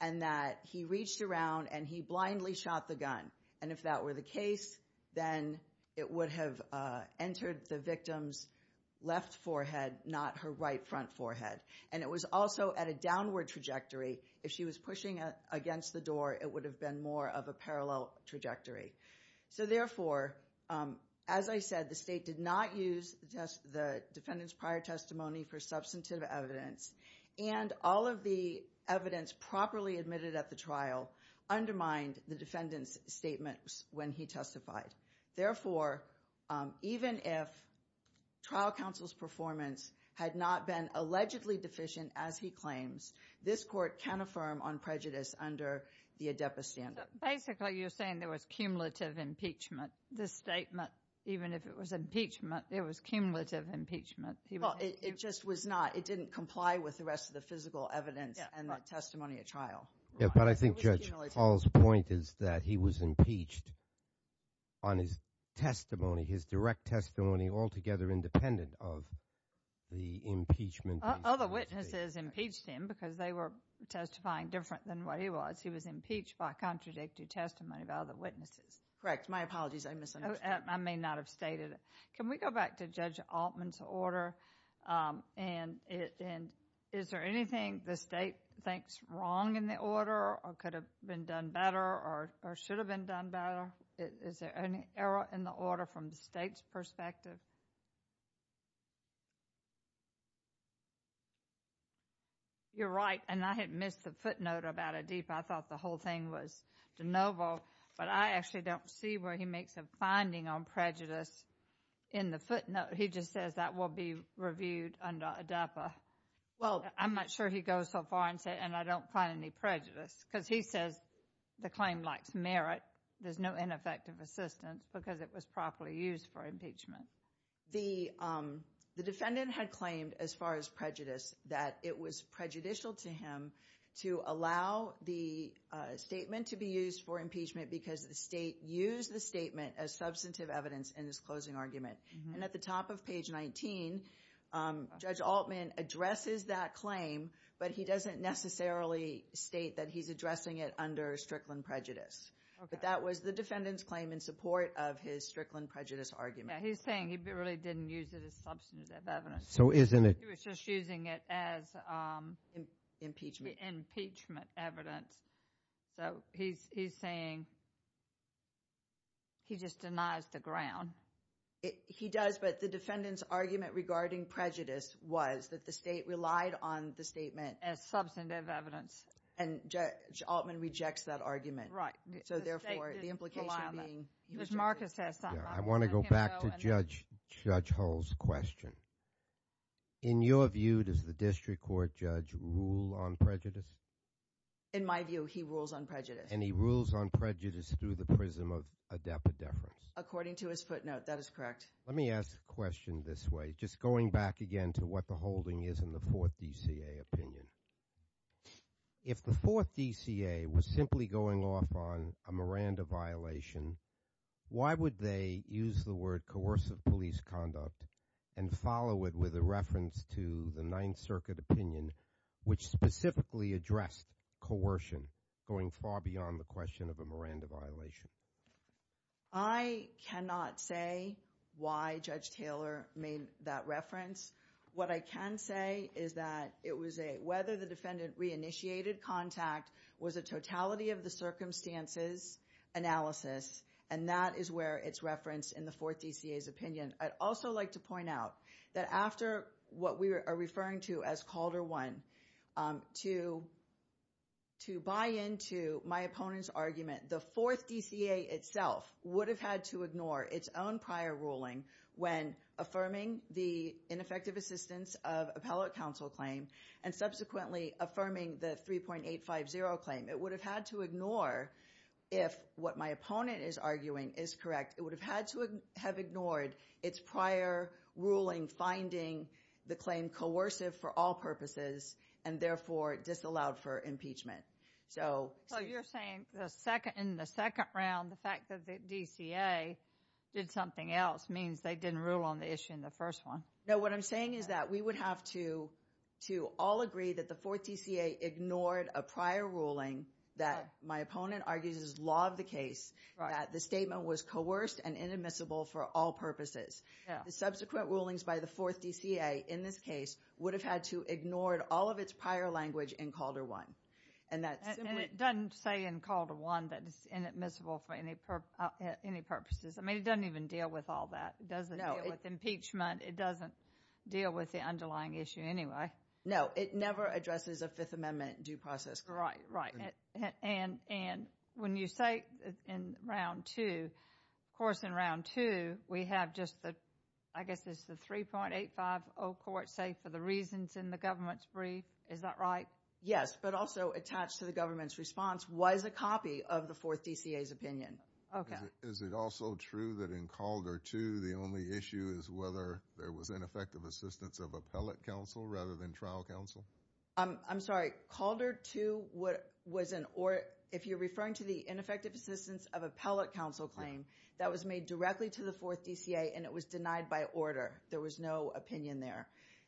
and that he reached around and he blindly shot the gun, and if that were the case, then it would have entered the victim's left forehead, not her right front forehead. It was also at a downward trajectory. If she was pushing against the door, it would have been more of a parallel trajectory. Therefore, as I said, the state did not use the defendant's prior testimony for substantive evidence, and all of the evidence properly admitted at the trial undermined the defendant's statements when he testified. Therefore, even if trial counsel's performance had not been allegedly deficient, as he claims, this court can affirm on prejudice under the ADEPA standard. Basically, you're saying there was cumulative impeachment. This statement, even if it was impeachment, there was cumulative impeachment. Well, it just was not. It didn't comply with the rest of the physical evidence and the testimony at trial. But I think Judge Hall's point is that he was impeached on his testimony, his direct testimony altogether independent of the impeachment. Other witnesses impeached him because they were testifying different than what he was. He was impeached by contradictory testimony of other witnesses. Correct. My apologies. I misunderstood. I may not have stated it. Can we go back to Judge Altman's order, and is there anything the state thinks wrong in the order or could have been done better or should have been done better? Is there any error in the order from the state's perspective? You're right, and I had missed the footnote about ADEPA. I thought the whole thing was de novo, but I actually don't see where he makes a finding on prejudice in the footnote. He just says that will be reviewed under ADEPA. I'm not sure he goes so far and says, and I don't find any prejudice, because he says the claim lacks merit. There's no ineffective assistance because it was properly used for impeachment. The defendant had claimed as far as prejudice that it was prejudicial to him to allow the statement to be used for impeachment because the state used the statement as substantive evidence in his closing argument. And at the top of page 19, Judge Altman addresses that claim, but he doesn't necessarily state that he's addressing it under Strickland prejudice. But that was the defendant's claim in support of his Strickland prejudice argument. Yeah, he's saying he really didn't use it as substantive evidence. So isn't it? He was just using it as impeachment evidence. So he's saying he just denies the ground. He does, but the defendant's argument regarding prejudice was that the state relied on the statement. As substantive evidence. And Judge Altman rejects that argument. Right. So therefore, the implication being. I want to go back to Judge Hull's question. In your view, does the district court judge rule on prejudice? In my view, he rules on prejudice. And he rules on prejudice through the prism of adepa deference. According to his footnote, that is correct. Let me ask a question this way, just going back again to what the holding is in the Fourth DCA opinion. If the Fourth DCA was simply going off on a Miranda violation, why would they use the word coercive police conduct and follow it with a reference to the Ninth Circuit opinion, which specifically addressed coercion, going far beyond the question of a Miranda violation? I cannot say why Judge Taylor made that reference. What I can say is that it was a whether the defendant re-initiated contact was a totality of the circumstances analysis. And that is where it's referenced in the Fourth DCA's opinion. I'd also like to point out that after what we are referring to as Calder 1, to buy into my opponent's argument, the Fourth DCA itself would have had to ignore its own prior ruling when affirming the ineffective assistance of appellate counsel claim and subsequently affirming the 3.850 claim. It would have had to ignore if what my opponent is arguing is correct. It would have had to have ignored its prior ruling finding the claim coercive for all purposes and therefore disallowed for impeachment. So you're saying the second in the second round, the fact that the DCA did something else means they didn't rule on the issue in the first one. No, what I'm saying is that we would have to all agree that the Fourth DCA ignored a prior ruling that my opponent argues is law of the case. The statement was coerced and inadmissible for all purposes. The subsequent rulings by the Fourth DCA in this case would have had to ignored all of its prior language in Calder 1. And it doesn't say in Calder 1 that it's inadmissible for any purposes. I mean, it doesn't even deal with all that. It doesn't deal with impeachment. It doesn't deal with the underlying issue anyway. No, it never addresses a Fifth Amendment due process. Right, right. And when you say in round two, of course in round two we have just the, I guess it's the 3.850 court say for the reasons in the government's brief. Is that right? Yes, but also attached to the government's response was a copy of the Fourth DCA's opinion. Okay. Is it also true that in Calder 2 the only issue is whether there was ineffective assistance of appellate counsel rather than trial counsel? I'm sorry. Calder 2 was an, or if you're referring to the ineffective assistance of appellate counsel claim, that was made directly to the Fourth DCA and it was denied by order. There was no opinion there.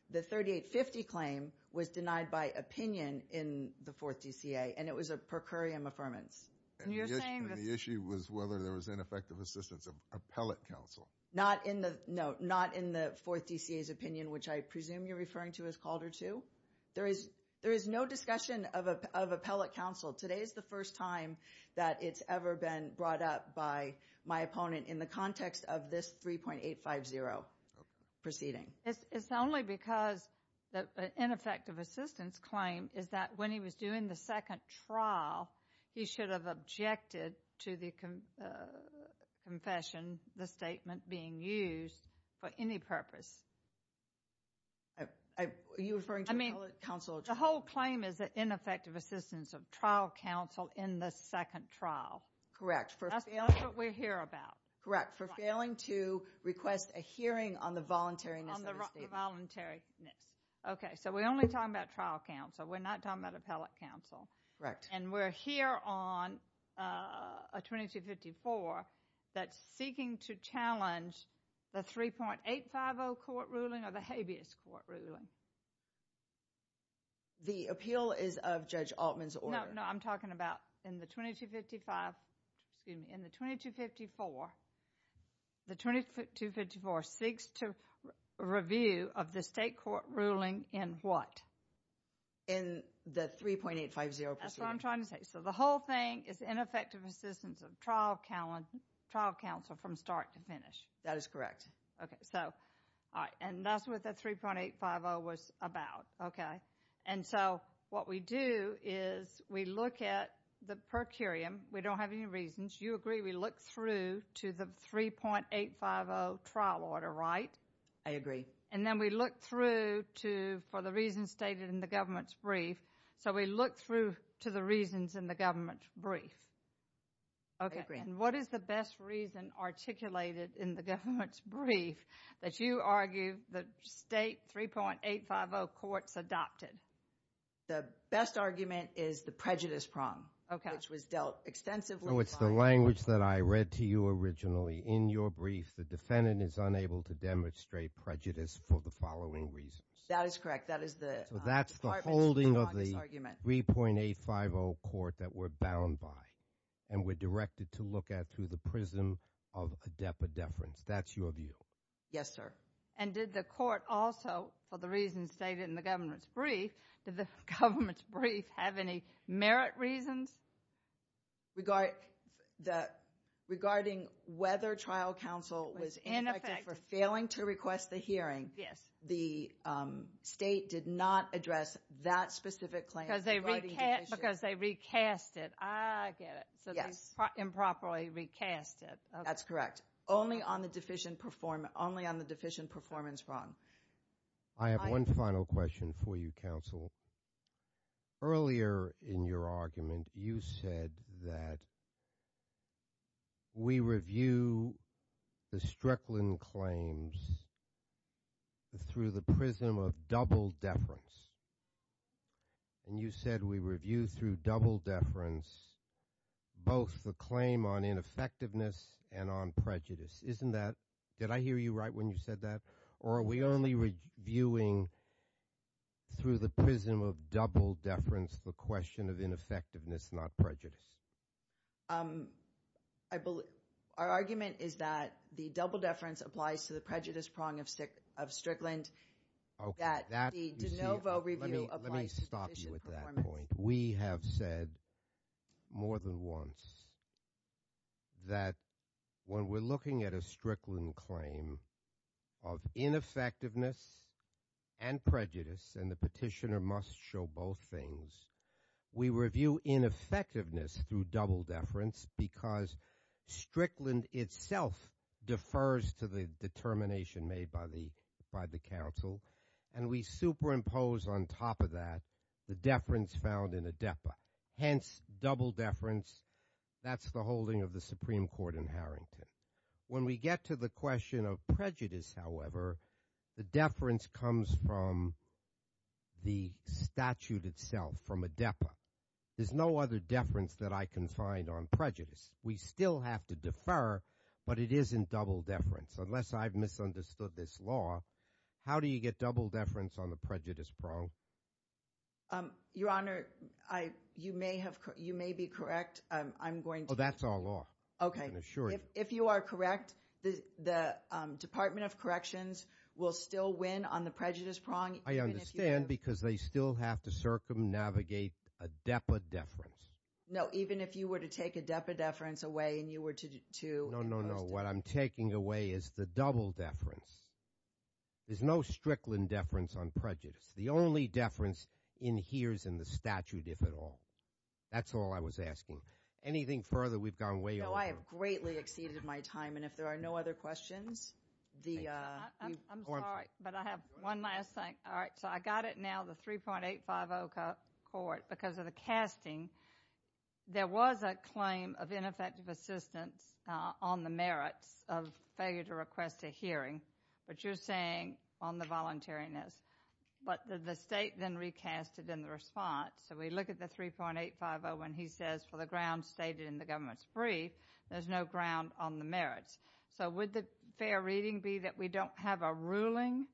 The 3.850 claim was denied by opinion in the Fourth DCA and it was a per curiam affirmance. And you're saying that. And the issue was whether there was ineffective assistance of appellate counsel. Not in the, no, not in the Fourth DCA's opinion which I presume you're referring to as Calder 2. There is no discussion of appellate counsel. Today is the first time that it's ever been brought up by my opponent in the context of this 3.850 proceeding. It's only because the ineffective assistance claim is that when he was doing the second trial he should have objected to the confession, the statement being used for any purpose. Are you referring to appellate counsel? The whole claim is that ineffective assistance of trial counsel in the second trial. Correct. That's what we're here about. Correct, for failing to request a hearing on the voluntariness of the statement. On the voluntariness. Okay, so we're only talking about trial counsel. We're not talking about appellate counsel. Correct. And we're here on a 2254 that's seeking to challenge the 3.850 court ruling or the habeas court ruling. The appeal is of Judge Altman's order. No, no, I'm talking about in the 2255, excuse me, in the 2254, the 2254 seeks to review of the state court ruling in what? In the 3.850 proceeding. That's what I'm trying to say. So the whole thing is ineffective assistance of trial counsel from start to finish. That is correct. Okay, so, all right, and that's what the 3.850 was about, okay? And so what we do is we look at the per curiam. We don't have any reasons. You agree we look through to the 3.850 trial order, right? I agree. And then we look through to for the reasons stated in the government's brief. So we look through to the reasons in the government's brief. I agree. And what is the best reason articulated in the government's brief that you argue the state 3.850 courts adopted? The best argument is the prejudice prong. Okay. Which was dealt extensively. So it's the language that I read to you originally in your brief. The defendant is unable to demonstrate prejudice for the following reasons. That is correct. So that's the holding of the 3.850 court that we're bound by. And we're directed to look at through the prism of adepa deference. That's your view. Yes, sir. And did the court also, for the reasons stated in the government's brief, did the government's brief have any merit reasons? Regarding whether trial counsel was ineffective for failing to request the hearing. Yes. The state did not address that specific claim. Because they recast it. I get it. So they improperly recast it. That's correct. Only on the deficient performance prong. I have one final question for you, counsel. Earlier in your argument, you said that we review the Strickland claims through the prism of double deference. And you said we review through double deference both the claim on ineffectiveness and on prejudice. Didn't I hear you right when you said that? Or are we only reviewing through the prism of double deference the question of ineffectiveness, not prejudice? Our argument is that the double deference applies to the prejudice prong of Strickland. Okay. Let me stop you at that point. We have said more than once that when we're looking at a Strickland claim of ineffectiveness and prejudice, and the petitioner must show both things, we review ineffectiveness through double deference because Strickland itself defers to the determination made by the counsel, and we superimpose on top of that the deference found in ADEPA. Hence, double deference. That's the holding of the Supreme Court in Harrington. When we get to the question of prejudice, however, the deference comes from the statute itself, from ADEPA. There's no other deference that I can find on prejudice. We still have to defer, but it isn't double deference. Unless I've misunderstood this law, how do you get double deference on the prejudice prong? Your Honor, you may be correct. I'm going to – Oh, that's our law. Okay. I can assure you. If you are correct, the Department of Corrections will still win on the prejudice prong even if you – No, even if you were to take ADEPA deference away and you were to impose – No, no, no. What I'm taking away is the double deference. There's no Strickland deference on prejudice. The only deference in here is in the statute, if at all. That's all I was asking. Anything further, we've gone way over time. No, I have greatly exceeded my time, and if there are no other questions, the – I'm sorry, but I have one last thing. All right, so I got it now, the 3.850 court, because of the casting, there was a claim of ineffective assistance on the merits of failure to request a hearing. But you're saying on the voluntariness. But the state then recast it in the response. So we look at the 3.850 when he says, for the grounds stated in the government's brief, there's no ground on the merits. So would the fair reading be that we don't have a ruling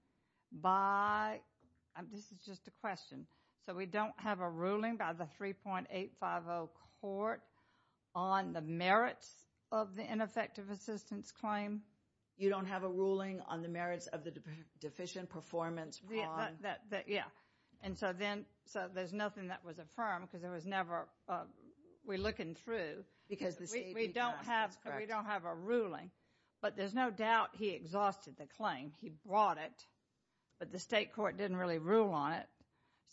by – this is just a question. So we don't have a ruling by the 3.850 court on the merits of the ineffective assistance claim? You don't have a ruling on the merits of the deficient performance on – Yeah, and so then – so there's nothing that was affirmed because there was never – we're looking through. We don't have a ruling, but there's no doubt he exhausted the claim. He brought it, but the state court didn't really rule on it.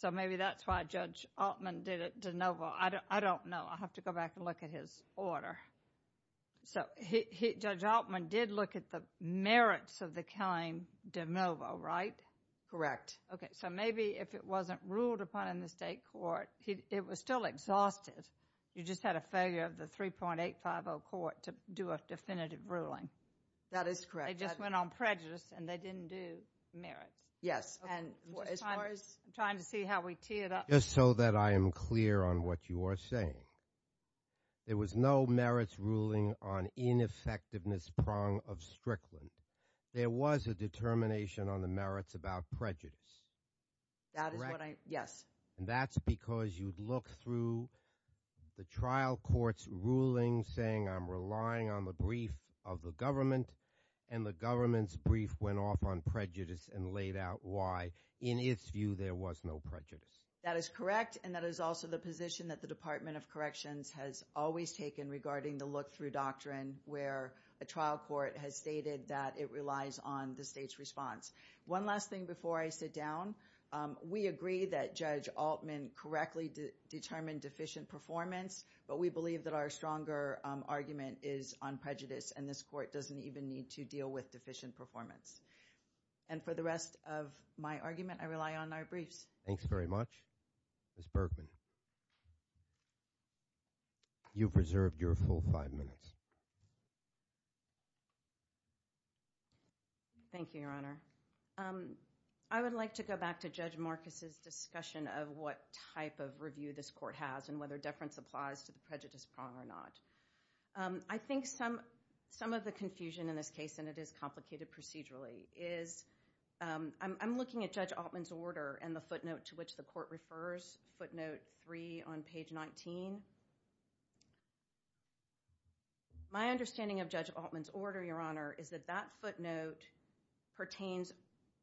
So maybe that's why Judge Altman did it de novo. I don't know. I'll have to go back and look at his order. So Judge Altman did look at the merits of the claim de novo, right? Correct. Okay, so maybe if it wasn't ruled upon in the state court, it was still exhausted. You just had a failure of the 3.850 court to do a definitive ruling. That is correct. They just went on prejudice, and they didn't do merits. Yes, and as far as – I'm trying to see how we tee it up. Just so that I am clear on what you are saying, there was no merits ruling on ineffectiveness prong of Strickland. There was a determination on the merits about prejudice. That is what I – yes. And that's because you'd look through the trial court's ruling saying I'm relying on the brief of the government, and the government's brief went off on prejudice and laid out why, in its view, there was no prejudice. That is correct, and that is also the position that the Department of Corrections has always taken regarding the look-through doctrine where a trial court has stated that it relies on the state's response. One last thing before I sit down. We agree that Judge Altman correctly determined deficient performance, but we believe that our stronger argument is on prejudice, and this court doesn't even need to deal with deficient performance. And for the rest of my argument, I rely on our briefs. Thanks very much. Ms. Bergman, you've reserved your full five minutes. Thank you, Your Honor. I would like to go back to Judge Marcus's discussion of what type of review this court has and whether deference applies to the prejudice prong or not. I think some of the confusion in this case, and it is complicated procedurally, is I'm looking at Judge Altman's order and the footnote to which the court refers, footnote three on page 19. My understanding of Judge Altman's order, Your Honor, is that that footnote pertains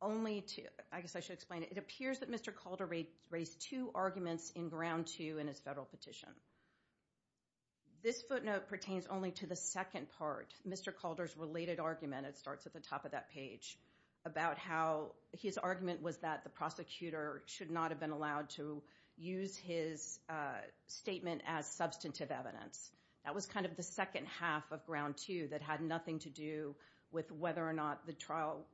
only to, I guess I should explain it, it appears that Mr. Calder raised two arguments in ground two in his federal petition. This footnote pertains only to the second part, Mr. Calder's related argument, it starts at the top of that page, about how his argument was that the prosecutor should not have been allowed to use his statement as substantive evidence. That was kind of the second half of ground two that had nothing to do with whether or not the trial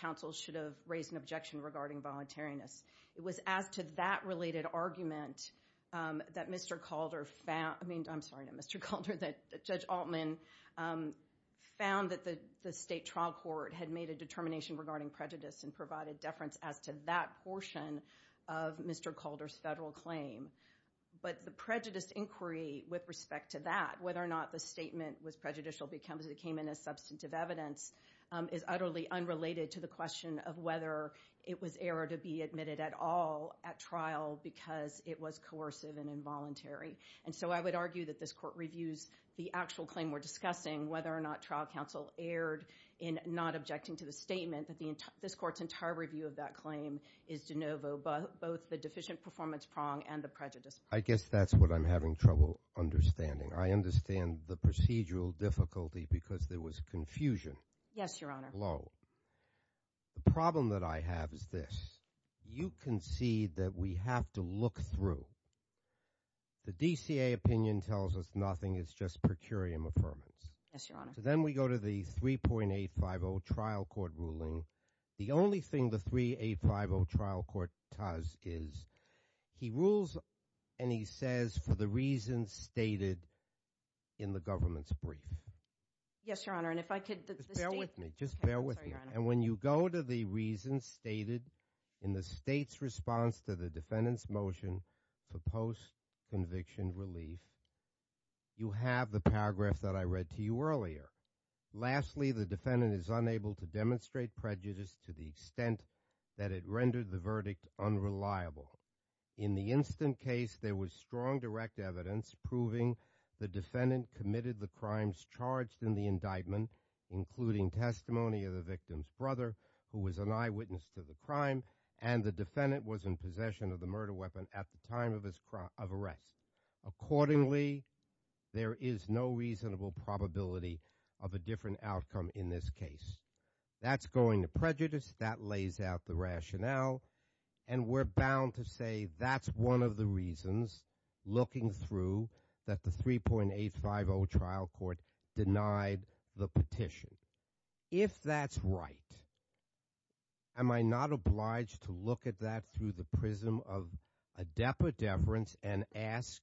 counsel should have raised an objection regarding voluntariness. It was as to that related argument that Mr. Calder found, I'm sorry, Mr. Calder, that Judge Altman found that the state trial court had made a determination regarding prejudice and provided deference as to that portion of Mr. Calder's federal claim. But the prejudice inquiry with respect to that, whether or not the statement was prejudicial because it came in as substantive evidence, is utterly unrelated to the question of whether it was error to be admitted at all at trial because it was coercive and involuntary. And so I would argue that this court reviews the actual claim we're discussing, whether or not trial counsel erred in not objecting to the statement that this court's entire review of that claim is de novo both the deficient performance prong and the prejudice prong. I guess that's what I'm having trouble understanding. I understand the procedural difficulty because there was confusion. Yes, Your Honor. The problem that I have is this. You concede that we have to look through. The DCA opinion tells us nothing. It's just per curiam affirmance. Yes, Your Honor. Then we go to the 3.850 trial court ruling. The only thing the 3.850 trial court does is he rules, and he says, for the reasons stated in the government's brief. Yes, Your Honor. And if I could, the state— Just bear with me. Just bear with me. Okay, I'm sorry, Your Honor. And when you go to the reasons stated in the state's response to the defendant's motion for post-conviction relief, you have the paragraph that I read to you earlier. Lastly, the defendant is unable to demonstrate prejudice to the extent that it rendered the verdict unreliable. In the instant case, there was strong direct evidence proving the defendant committed the crimes charged in the indictment, including testimony of the victim's brother, who was an eyewitness to the crime, and the defendant was in possession of the murder weapon at the time of arrest. Accordingly, there is no reasonable probability of a different outcome in this case. That's going to prejudice. That lays out the rationale, and we're bound to say that's one of the reasons, looking through, that the 3.850 trial court denied the petition. If that's right, am I not obliged to look at that through the prism of adepa deference and ask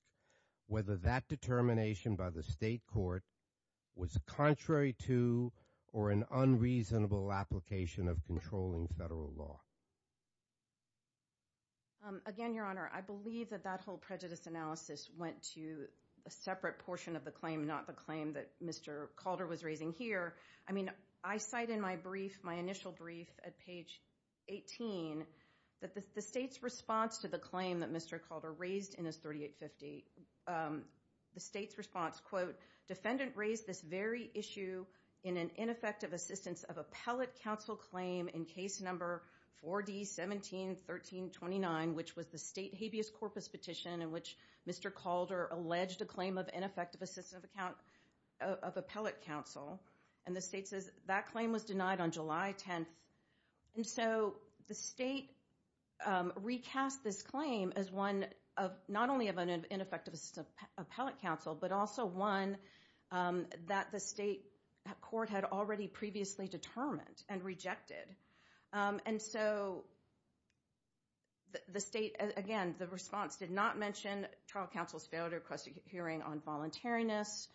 whether that determination by the state court was contrary to or an unreasonable application of controlling federal law? Again, Your Honor, I believe that that whole prejudice analysis went to a separate portion of the claim, not the claim that Mr. Calder was raising here. I mean, I cite in my brief, my initial brief at page 18, that the state's response to the claim that Mr. Calder raised in his 3.850, the state's response, quote, defendant raised this very issue in an ineffective assistance of appellate counsel claim in case number 4D-17-13-29, which was the state habeas corpus petition in which Mr. Calder alleged a claim of ineffective assistance of appellate counsel. And the state says that claim was denied on July 10th. And so the state recast this claim as one of not only of an ineffective assistance of appellate counsel, but also one that the state court had already previously determined and rejected. And so the state, again, the response did not mention trial counsel's failure to request a hearing on voluntariness.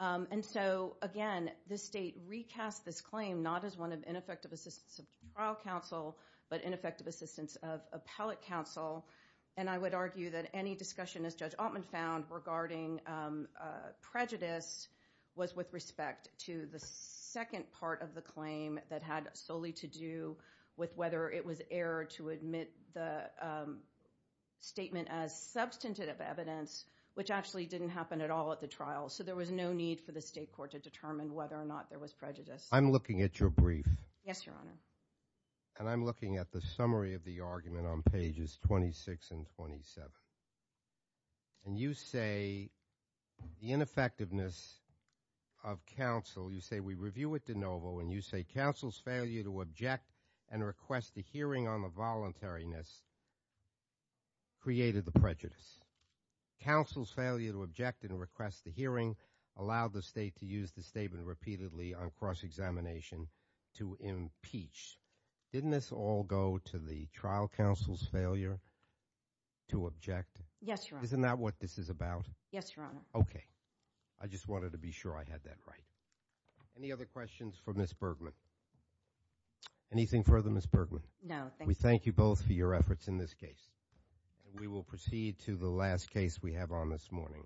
And so, again, the state recast this claim not as one of ineffective assistance of trial counsel, but ineffective assistance of appellate counsel. And I would argue that any discussion, as Judge Altman found, regarding prejudice was with respect to the second part of the claim that had solely to do with whether it was error to admit the statement as substantive evidence, which actually didn't happen at all at the trial. So there was no need for the state court to determine whether or not there was prejudice. I'm looking at your brief. Yes, Your Honor. And I'm looking at the summary of the argument on pages 26 and 27. And you say the ineffectiveness of counsel, you say we review it de novo, and you say counsel's failure to object and request a hearing on the voluntariness created the prejudice. Counsel's failure to object and request the hearing allowed the state to use the statement repeatedly on cross-examination to impeach. Didn't this all go to the trial counsel's failure to object? Yes, Your Honor. Isn't that what this is about? Yes, Your Honor. Okay. I just wanted to be sure I had that right. Any other questions for Ms. Bergman? Anything further, Ms. Bergman? No, thank you. We thank you both for your efforts in this case. And we will proceed to the last case we have on this morning.